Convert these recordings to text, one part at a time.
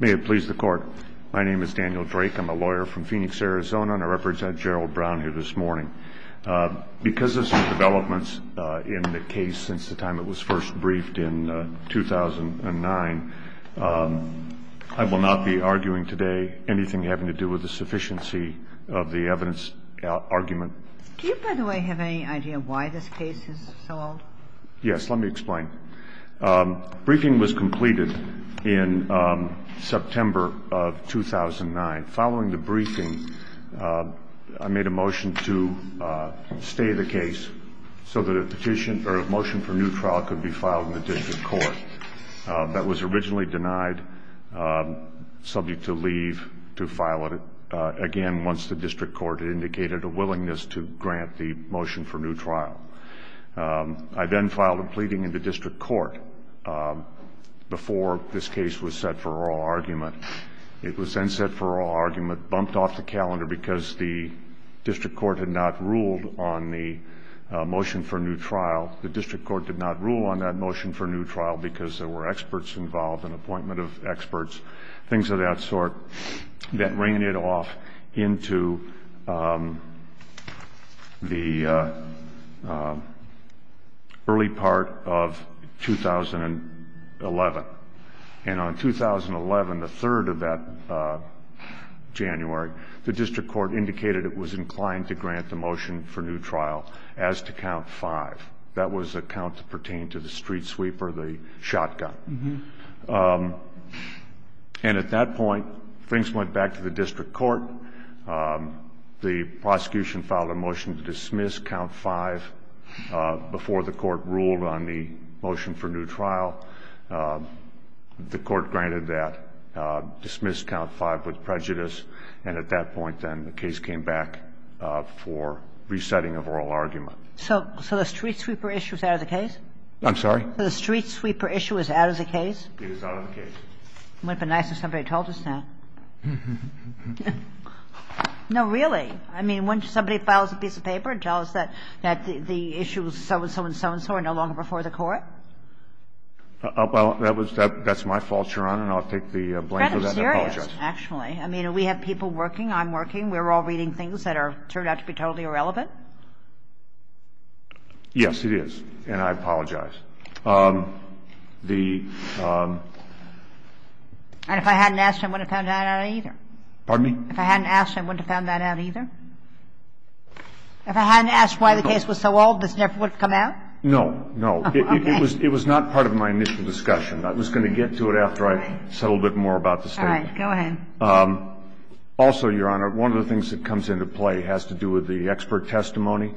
May it please the court. My name is Daniel Drake. I'm a lawyer from Phoenix, Arizona, and I represent Gerald Brown here this morning. Because of some developments in the case since the time it was first briefed in 2009, I will not be arguing today anything having to do with the sufficiency of the evidence argument. Do you, by the way, have any idea why this case is so old? Yes, let me explain. Briefing was completed in September of 2009. Following the briefing, I made a motion to stay the case so that a motion for new trial could be filed in the district court. That was originally denied, subject to leave to file again once the district court indicated a willingness to grant the motion for new trial. I then filed a pleading in the district court before this case was set for oral argument. It was then set for oral argument, bumped off the calendar because the district court had not ruled on the motion for new trial. The district court did not rule on that motion for new trial because there were experts involved, an appointment of experts, things of that sort, that ran it off into the early part of 2011. And on 2011, the third of that January, the district court indicated it was inclined to grant the motion for new trial as to count five. That was a count to pertain to the street sweeper, the shotgun. And at that point, things went back to the district court. The prosecution filed a motion to dismiss count five before the court ruled on the motion for new trial. The court granted that, dismissed count five with prejudice, and at that point, then, the case came back for resetting of oral argument. So the street sweeper issue is out of the case? I'm sorry? The street sweeper issue is out of the case? It is out of the case. Wouldn't it be nice if somebody told us that? No, really. I mean, wouldn't somebody file us a piece of paper and tell us that the issue was so-and-so and so-and-so are no longer before the court? Well, that was my fault, Your Honor, and I'll take the blame for that and apologize. I'm serious, actually. I mean, we have people working. I'm working. We're all reading things that turned out to be totally irrelevant. Yes, it is, and I apologize. And if I hadn't asked, I wouldn't have found that out either. Pardon me? If I hadn't asked, I wouldn't have found that out either. If I hadn't asked why the case was so old, this never would have come out? No, no. Okay. It was not part of my initial discussion. I was going to get to it after I settled a bit more about the statement. All right. Go ahead. Also, Your Honor, one of the things that comes into play has to do with the expert testimony.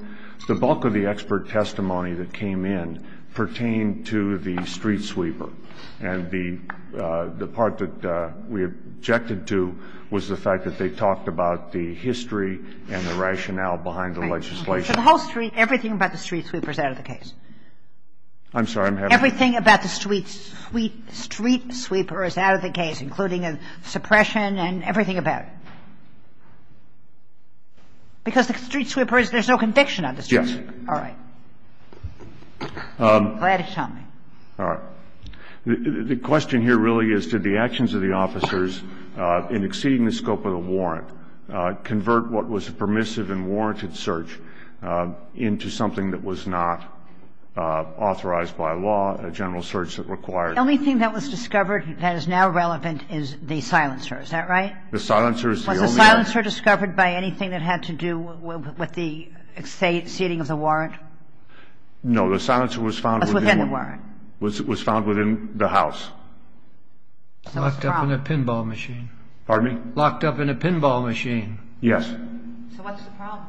The bulk of the expert testimony that came in pertained to the street sweeper. And the part that we objected to was the fact that they talked about the history and the rationale behind the legislation. Right. So the whole street, everything about the street sweeper is out of the case? I'm sorry? Everything about the street sweeper is out of the case, including suppression and everything about it? Because the street sweeper is, there's no conviction on the street sweeper. Yes. All right. Go ahead and tell me. All right. The question here really is, did the actions of the officers in exceeding the scope of the warrant convert what was a permissive and warranted search into something that was not authorized by law, a general search that required. The only thing that was discovered that is now relevant is the silencer. Is that right? The silencer is the only evidence. Did the silencer discover by anything that had to do with the exceeding of the warrant? No. The silencer was found within the house. Locked up in a pinball machine. Pardon me? Locked up in a pinball machine. Yes. So what's the problem?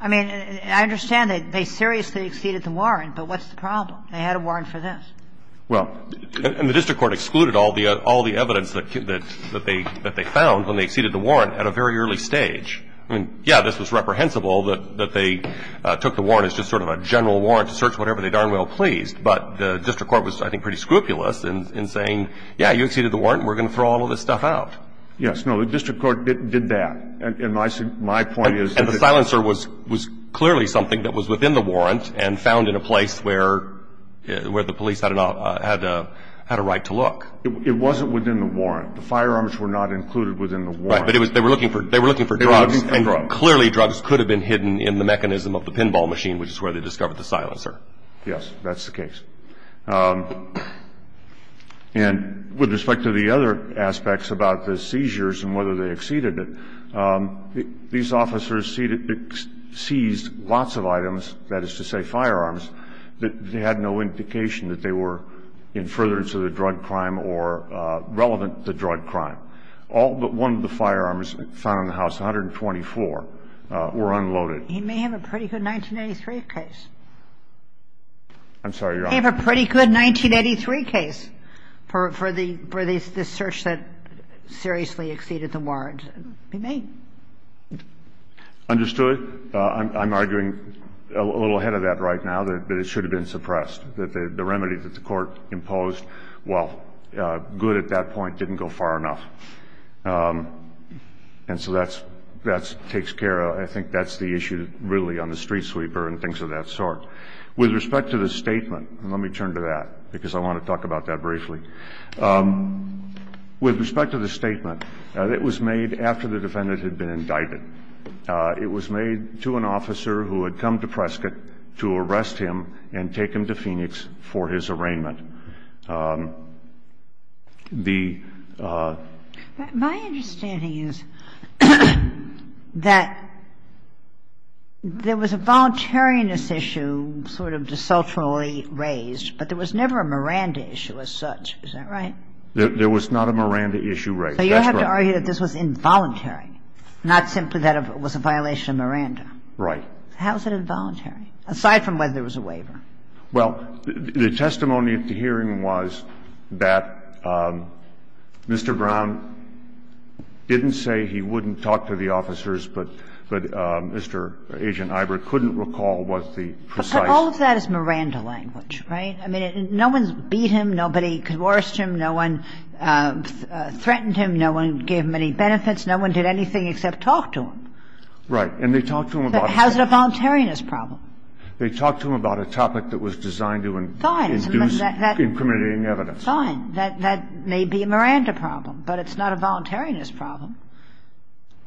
I mean, I understand that they seriously exceeded the warrant, but what's the problem? They had a warrant for this. Well, and the district court excluded all the evidence that they found when they exceeded the warrant at a very early stage. I mean, yeah, this was reprehensible that they took the warrant as just sort of a general warrant to search whatever they darn well pleased. But the district court was, I think, pretty scrupulous in saying, yeah, you exceeded the warrant. We're going to throw all of this stuff out. Yes. No, the district court did that. And my point is that the silencer was clearly something that was within the warrant and found in a place where the police had a right to look. It wasn't within the warrant. The firearms were not included within the warrant. Right. But they were looking for drugs. They were looking for drugs. And clearly drugs could have been hidden in the mechanism of the pinball machine, which is where they discovered the silencer. Yes. That's the case. And with respect to the other aspects about the seizures and whether they exceeded it, these officers seized lots of items, that is to say, firearms, that had no indication that they were in furtherance of the drug crime or relevant to the drug crime. All but one of the firearms found in the house, 124, were unloaded. He may have a pretty good 1983 case. I'm sorry, Your Honor. He may have a pretty good 1983 case for the search that seriously exceeded the warrant. He may. Understood. I'm arguing a little ahead of that right now, that it should have been suppressed, that the remedy that the court imposed, while good at that point, didn't go far enough. And so that takes care of the issue really on the street sweeper and things of that sort. With respect to the statement, let me turn to that, because I want to talk about that briefly. With respect to the statement, it was made after the defendant had been indicted. It was made to an officer who had come to Prescott to arrest him and take him to Phoenix for his arraignment. The ---- My understanding is that there was a voluntariness issue sort of desultorily raised, but there was never a Miranda issue as such. Is that right? There was not a Miranda issue raised. That's right. I'm arguing that this was involuntary, not simply that it was a violation of Miranda. Right. How is it involuntary, aside from whether there was a waiver? Well, the testimony at the hearing was that Mr. Brown didn't say he wouldn't talk to the officers, but Mr. Agent Iber couldn't recall what the precise ---- But all of that is Miranda language, right? I mean, no one's beat him. Nobody coerced him. No one threatened him. No one gave him any benefits. No one did anything except talk to him. Right. And they talked to him about a ---- How is it a voluntariness problem? They talked to him about a topic that was designed to induce incriminating evidence. Fine. That may be a Miranda problem, but it's not a voluntariness problem.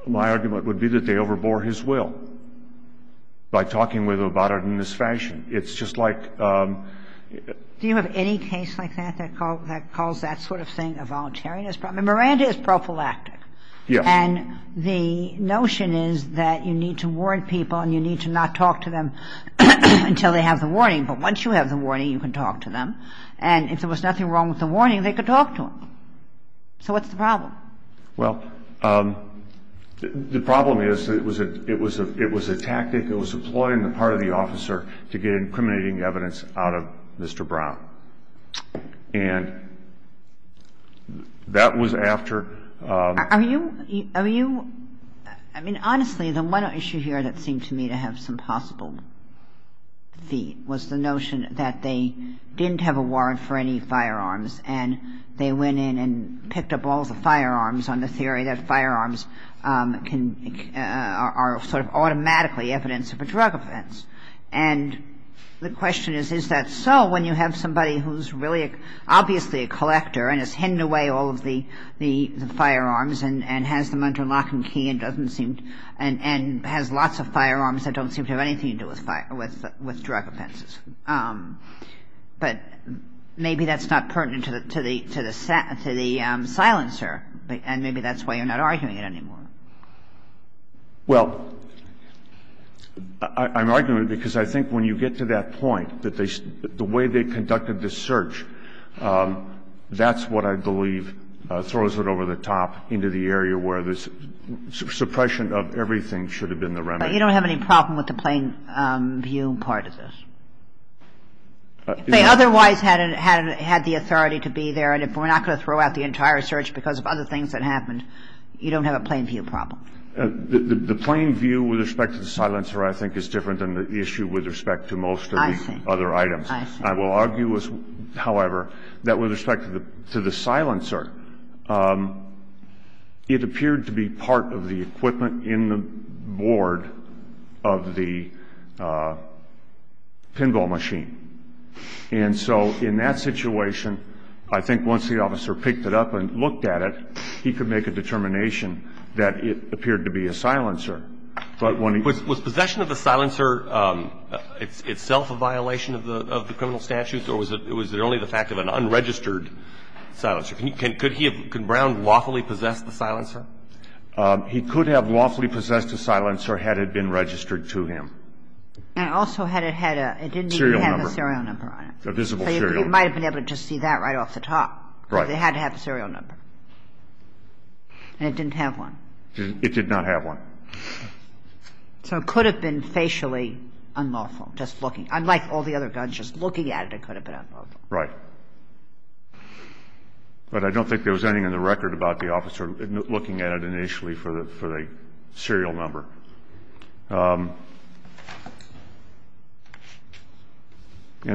My argument would be that they overbore his will by talking with him about it in this fashion. It's just like ---- Do you have any case like that that calls that sort of thing a voluntariness problem? Miranda is prophylactic. Yes. And the notion is that you need to warn people and you need to not talk to them until they have the warning. But once you have the warning, you can talk to them. And if there was nothing wrong with the warning, they could talk to him. So what's the problem? Well, the problem is it was a tactic. It was employing the part of the officer to get incriminating evidence out of Mr. Brown. And that was after ---- Are you ---- I mean, honestly, the one issue here that seemed to me to have some possible feet was the notion that they didn't have a warrant for any firearms and they went in and picked up all the firearms on the theory that firearms can ---- are sort of automatically evidence of a drug offense. And the question is, is that so when you have somebody who's really obviously a collector and is handing away all of the firearms and has them under lock and key and doesn't seem to ---- and has lots of firearms that don't seem to have anything to do with drug offenses. But maybe that's not pertinent to the silencer, and maybe that's why you're not arguing it anymore. Well, I'm arguing it because I think when you get to that point that they ---- the way they conducted the search, that's what I believe throws it over the top into the area where the suppression of everything should have been the remedy. But you don't have any problem with the plain view part of this? If they otherwise had the authority to be there and if we're not going to throw out the entire search because of other things that happened, you don't have a plain view problem? The plain view with respect to the silencer I think is different than the issue with respect to most of the other items. I see. I see. I will argue, however, that with respect to the silencer, it appeared to be part of the equipment in the board of the pinball machine. And so in that situation, I think once the officer picked it up and looked at it, he could make a determination that it appeared to be a silencer. But when he ---- Was possession of the silencer itself a violation of the criminal statutes or was it only the fact of an unregistered silencer? Could he have ---- could Brown lawfully possess the silencer? He could have lawfully possessed a silencer had it been registered to him. And also had it had a ---- A serial number. A serial number on it. A visible serial number. So you might have been able to see that right off the top. Right. Because it had to have a serial number. And it didn't have one. It did not have one. So it could have been facially unlawful, just looking. Unlike all the other guns, just looking at it, it could have been unlawful. Right. But I don't think there was anything in the record about the officer looking at it initially for the serial number. And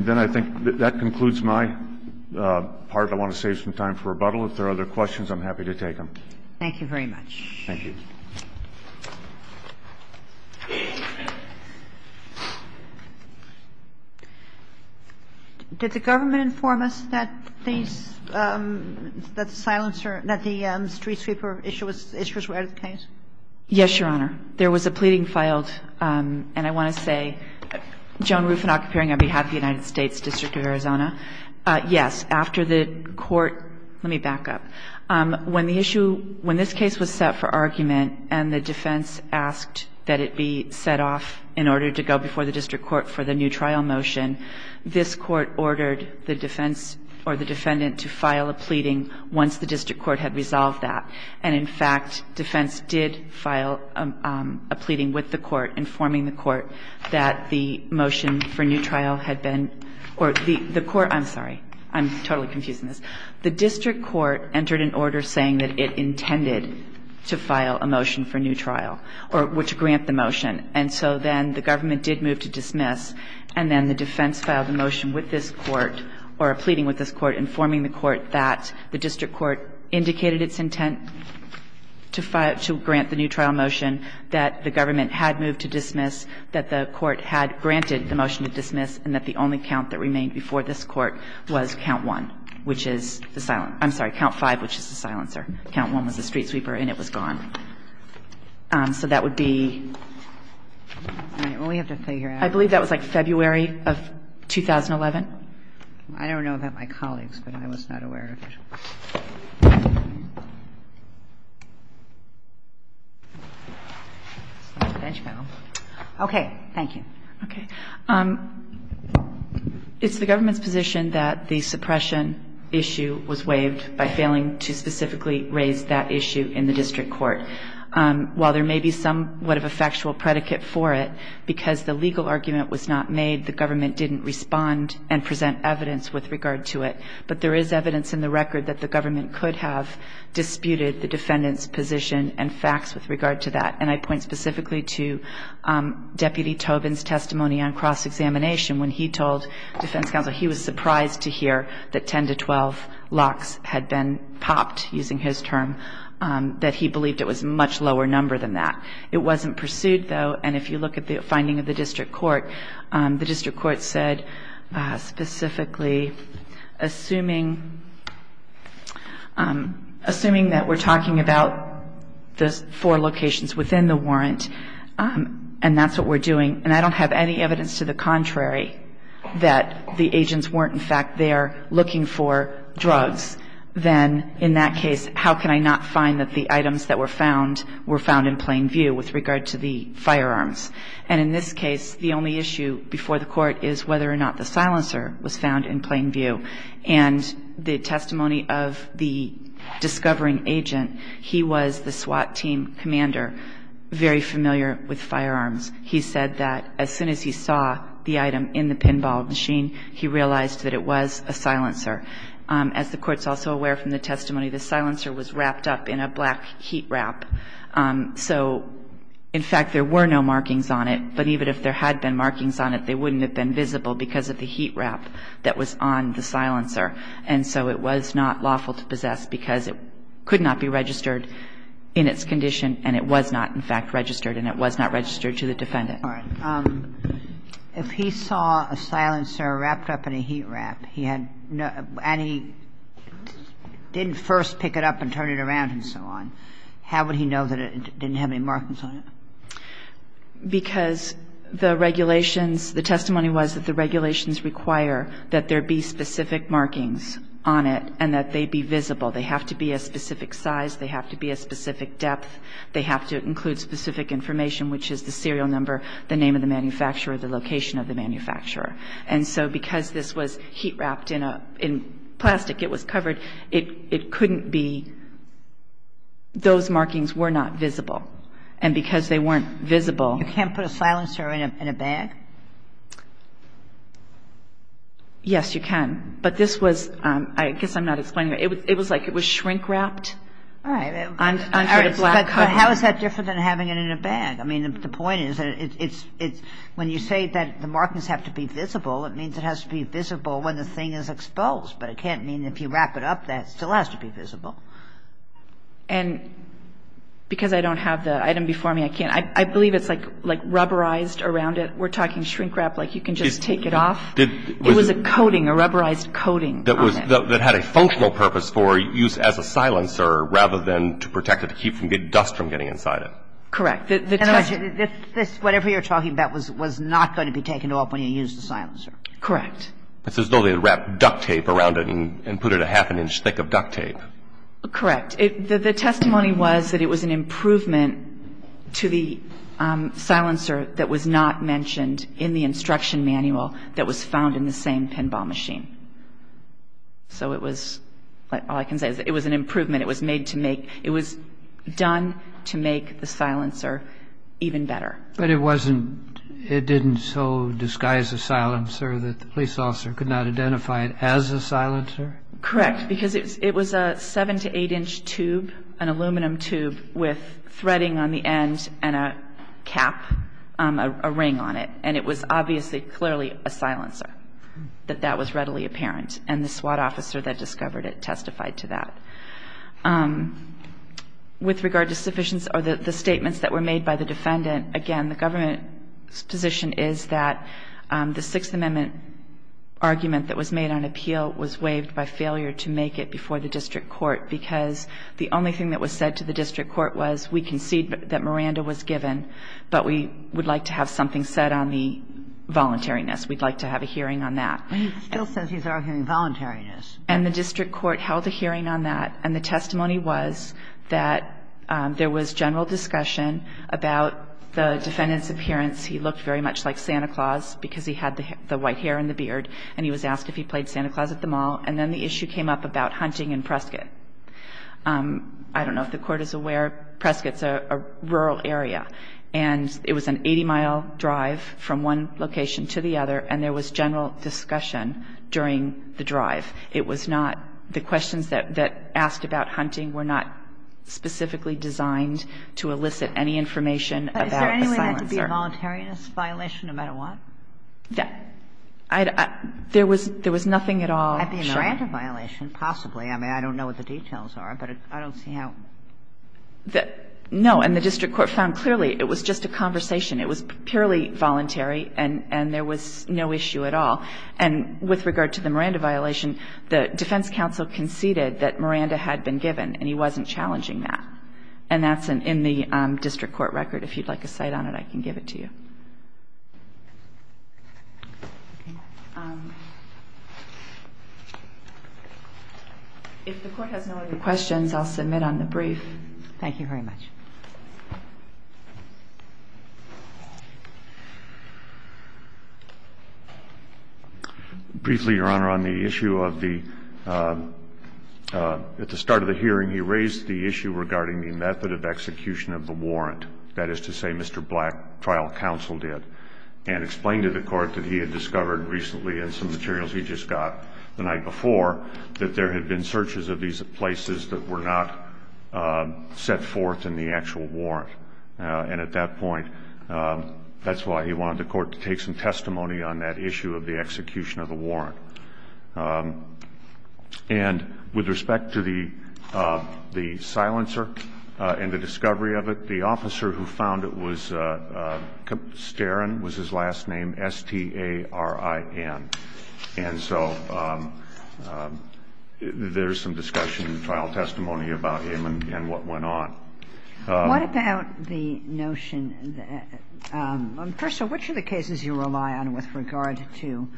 then I think that concludes my part. I want to save some time for rebuttal. If there are other questions, I'm happy to take them. Thank you very much. Thank you. Did the government inform us that these ---- that the silencer ---- that the street sweeper issuers were out of the case? Yes, Your Honor. There was a pleading filed, and I want to say, Joan Rufinok, appearing on behalf of the United States District of Arizona. Yes. After the court ---- let me back up. When the issue ---- when this case was set for argument and the defense asked that it be set off in order to go before the district court for the new trial motion, this court ordered the defense or the defendant to file a pleading once the district court had resolved that. And in fact, defense did file a pleading with the court informing the court that the motion for new trial had been ---- or the court ---- I'm sorry. I'm totally confused on this. The district court entered an order saying that it intended to file a motion for new trial or to grant the motion. And so then the government did move to dismiss, and then the defense filed a motion with this court or a pleading with this court informing the court that the district court indicated its intent to grant the new trial motion, that the government had moved to dismiss, that the court had granted the motion to dismiss, and that the only count that remained before this court was count 1, which is the silencer ---- I'm sorry, count 5, which is the silencer. Count 1 was the street sweeper, and it was gone. So that would be ---- I only have to figure out ---- I believe that was like February of 2011. I don't know about my colleagues, but I was not aware of it. Okay. Thank you. Okay. It's the government's position that the suppression issue was waived by failing to specifically raise that issue in the district court. While there may be somewhat of a factual predicate for it, because the legal argument was not made, the government didn't respond and present evidence with regard to it. But there is evidence in the record that the government could have disputed the defendant's position and facts with regard to that. And I point specifically to Deputy Tobin's testimony on cross-examination when he told defense counsel he was surprised to hear that 10 to 12 locks had been popped, using his term, that he believed it was a much lower number than that. It wasn't pursued, though. And if you look at the finding of the district court, the district court said specifically assuming that we're talking about the four locations within the warrant, and that's what we're doing, and I don't have any evidence to the contrary that the agents weren't in fact there looking for drugs, then in that case how can I not find that the items that were found were found in plain view with regard to the firearms. And in this case, the only issue before the court is whether or not the silencer was found in plain view. And the testimony of the discovering agent, he was the SWAT team commander, very familiar with firearms. He said that as soon as he saw the item in the pinball machine, he realized that it was a silencer. As the Court's also aware from the testimony, the silencer was wrapped up in a black heat wrap, so in fact there were no markings on it, but even if there had been markings on it, they wouldn't have been visible because of the heat wrap that was on the silencer. And so it was not lawful to possess because it could not be registered in its condition and it was not in fact registered, and it was not registered to the defendant. If he saw a silencer wrapped up in a heat wrap and he didn't first pick it up and turn it around and so on, how would he know that it didn't have any markings on it? Because the regulations, the testimony was that the regulations require that there be specific markings on it and that they be visible. They have to be a specific size. They have to be a specific depth. They have to include specific information, which is the serial number, the name of the manufacturer, the location of the manufacturer. And so because this was heat wrapped in plastic, it was covered, it couldn't be those markings were not visible. And because they weren't visible You can't put a silencer in a bag? Yes, you can. But this was, I guess I'm not explaining it, it was like it was shrink wrapped All right. But how is that different than having it in a bag? I mean, the point is that when you say that the markings have to be visible, it means it has to be visible when the thing is exposed. But it can't mean if you wrap it up that it still has to be visible. And because I don't have the item before me, I can't. I believe it's like rubberized around it. We're talking shrink wrapped like you can just take it off. It was a coating, a rubberized coating. That had a functional purpose for use as a silencer rather than to protect it to keep dust from getting inside it. Correct. And this, whatever you're talking about, was not going to be taken off when you used the silencer. Correct. It's as though they wrapped duct tape around it and put it a half an inch thick of duct tape. Correct. The testimony was that it was an improvement to the silencer that was not mentioned in the instruction manual that was found in the same pinball machine. So it was, all I can say is that it was an improvement. It was made to make, it was done to make the silencer even better. But it wasn't, it didn't so disguise a silencer that the police officer could not identify it as a silencer? Correct. Because it was a seven to eight inch tube, an aluminum tube with threading on the end and a cap, a ring on it. And it was obviously clearly a silencer, that that was readily apparent. And the SWAT officer that discovered it testified to that. With regard to the statements that were made by the defendant, again, the government's position is that the Sixth Amendment argument that was made on appeal was waived by failure to make it before the district court because the only thing that was said to the district court was we concede that Miranda was given, but we would like to have something said on the voluntariness. We'd like to have a hearing on that. But he still says he's arguing voluntariness. And the district court held a hearing on that. And the testimony was that there was general discussion about the defendant's appearance. He looked very much like Santa Claus because he had the white hair and the beard. And he was asked if he played Santa Claus at the mall. And then the issue came up about hunting in Prescott. I don't know if the Court is aware. Prescott's a rural area. And it was an 80-mile drive from one location to the other, and there was general discussion during the drive. It was not the questions that, that asked about hunting were not specifically designed to elicit any information about a silencer. Kagan. But is there any way that could be a voluntariness violation no matter what? There was nothing at all. At the Miranda violation, possibly. I mean, I don't know what the details are, but I don't see how. No. And the district court found clearly it was just a conversation. It was purely voluntary, and there was no issue at all. And with regard to the Miranda violation, the defense counsel conceded that Miranda had been given, and he wasn't challenging that. And that's in the district court record. If you'd like a cite on it, I can give it to you. If the court has no other questions, I'll submit on the brief. Thank you very much. Briefly, Your Honor, on the issue of the, at the start of the hearing, he raised the issue regarding the method of execution of the warrant. That is to say, Mr. Black, trial counsel, and explained to the court that he had discovered recently in some materials he just got the night before that there had been searches of these places that were not set forth in the actual warrant. And at that point, that's why he wanted the court to take some testimony on that issue of the execution of the warrant. And with respect to the silencer and the discovery of it, the officer who found it was Starin, was his last name, S-T-A-R-I-N. And so there's some discussion and trial testimony about him and what went on. What about the notion that, first of all, which of the cases you rely on with regard to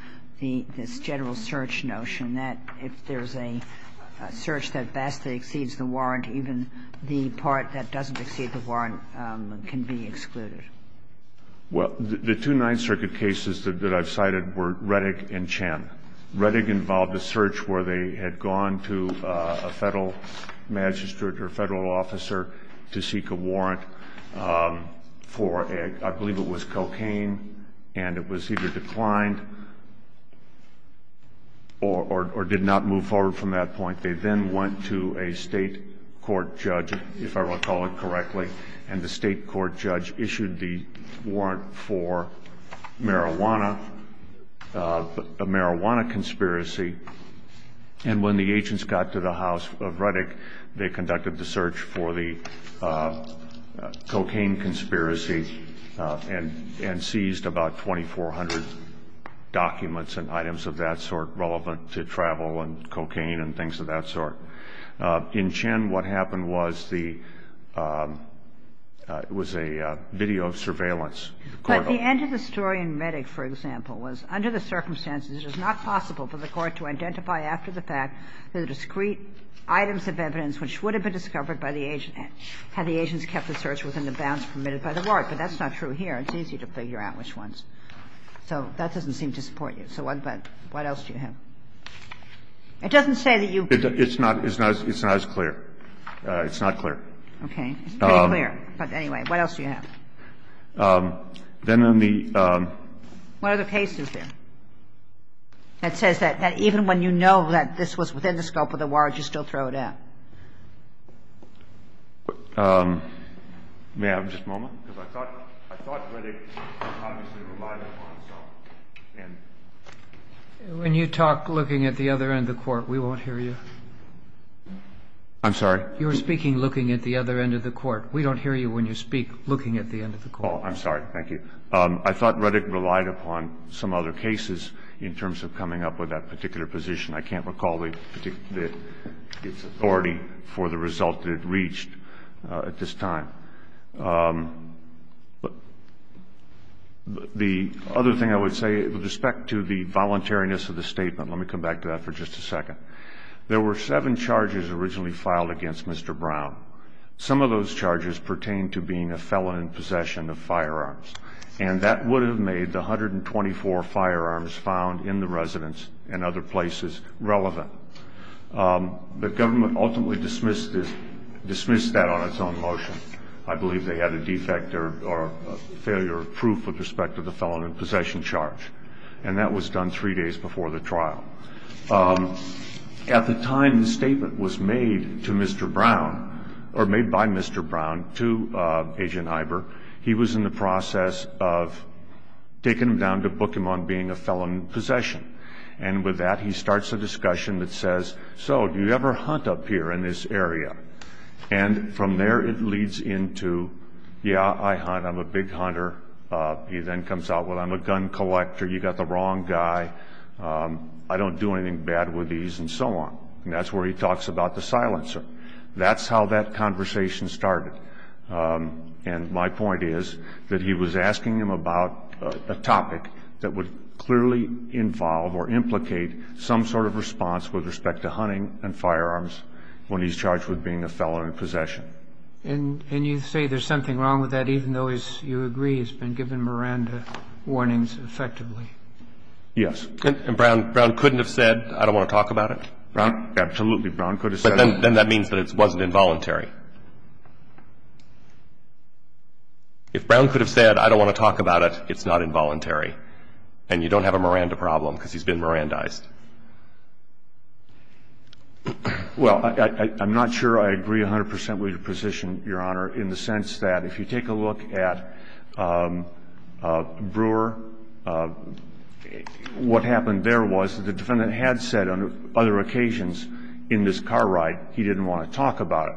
this general search notion that if there's a search that best exceeds the warrant, even the part that doesn't exceed the warrant can be excluded? Well, the two Ninth Circuit cases that I've cited were Reddick and Chen. Reddick involved a search where they had gone to a Federal magistrate or Federal officer to seek a warrant for, I believe it was cocaine, and it was either declined or did not move forward from that point. They then went to a state court judge, if I recall it correctly, and the state court judge issued the warrant for marijuana, a marijuana conspiracy. And when the agents got to the house of Reddick, they conducted the search for the cocaine conspiracy and seized about 2,400 documents and items of that sort that were relevant to travel and cocaine and things of that sort. In Chen, what happened was the – it was a video of surveillance. But the end of the story in Reddick, for example, was under the circumstances it was not possible for the court to identify after the fact the discrete items of evidence which would have been discovered by the agent had the agents kept the search within the bounds permitted by the warrant. But that's not true here. It's easy to figure out which ones. So that doesn't seem to support you. So what else do you have? It doesn't say that you – It's not as clear. It's not clear. Okay. It's pretty clear. But anyway, what else do you have? Then in the – What are the cases there that says that even when you know that this was within the scope of the warrant, you still throw it out? May I have just a moment? Because I thought Reddick obviously relied upon some. And – When you talk looking at the other end of the court, we won't hear you. I'm sorry? You were speaking looking at the other end of the court. We don't hear you when you speak looking at the end of the court. Oh, I'm sorry. Thank you. I thought Reddick relied upon some other cases in terms of coming up with that particular position. I can't recall the particular – its authority for the result that it reached at this time. But the other thing I would say with respect to the voluntariness of the statement, let me come back to that for just a second. There were seven charges originally filed against Mr. Brown. Some of those charges pertain to being a felon in possession of firearms, and that would have made the 124 firearms found in the residence and other places relevant. The government ultimately dismissed that on its own motion. I believe they had a defect or failure of proof with respect to the felon in possession charge. And that was done three days before the trial. At the time the statement was made to Mr. Brown, or made by Mr. Brown, to Agent Iber, he was in the process of taking him down to book him on being a felon in possession. And with that he starts a discussion that says, so do you ever hunt up here in this area? And from there it leads into, yeah, I hunt, I'm a big hunter. He then comes out, well, I'm a gun collector, you got the wrong guy, I don't do anything bad with these, and so on. And that's where he talks about the silencer. That's how that conversation started. And my point is that he was asking him about a topic that would clearly involve or implicate some sort of response with respect to hunting and firearms when he's charged with being a felon in possession. And you say there's something wrong with that even though, as you agree, he's been given Miranda warnings effectively? Yes. And Brown couldn't have said, I don't want to talk about it? Absolutely, Brown could have said it. But then that means that it wasn't involuntary. If Brown could have said, I don't want to talk about it, it's not involuntary. And you don't have a Miranda problem because he's been Mirandized. Well, I'm not sure I agree 100% with your position, Your Honor, in the sense that if you take a look at Brewer, what happened there was the defendant had said on other occasions in this car ride he didn't want to talk about it.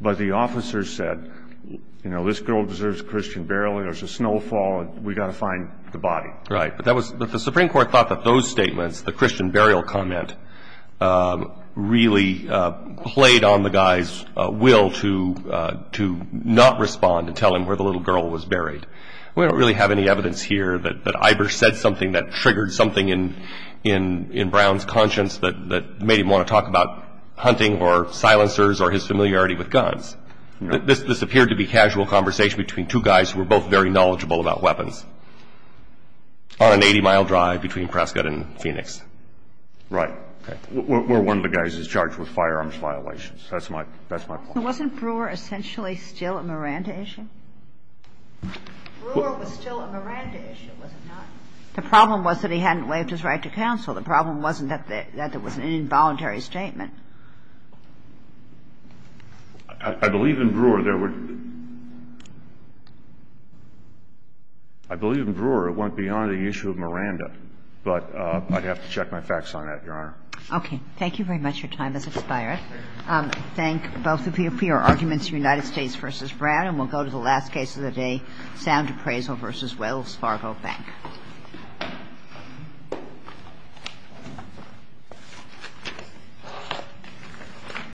But the officer said, you know, this girl deserves a Christian burial, there's a snowfall and we've got to find the body. Right. But the Supreme Court thought that those statements, the Christian burial comment, really played on the guy's will to not respond and tell him where the little girl was buried. We don't really have any evidence here that Ivers said something that triggered something in Brown's conscience that made him want to talk about hunting or silencers or his familiarity with guns. This appeared to be casual conversation between two guys who were both very knowledgeable about weapons on an 80-mile drive between Prescott and Phoenix. Right. Okay. We're one of the guys who's charged with firearms violations. That's my point. Wasn't Brewer essentially still a Miranda issue? Brewer was still a Miranda issue, was he not? The problem was that he hadn't waived his right to counsel. The problem wasn't that there was an involuntary statement. I believe in Brewer there were – I believe in Brewer it went beyond the issue of Miranda. But I'd have to check my facts on that, Your Honor. Okay. Thank you very much. Your time has expired. I thank both of you for your arguments, United States v. Brown. And we'll go to the last case of the day, Sound Appraisal v. Wells Fargo Bank. Thank you.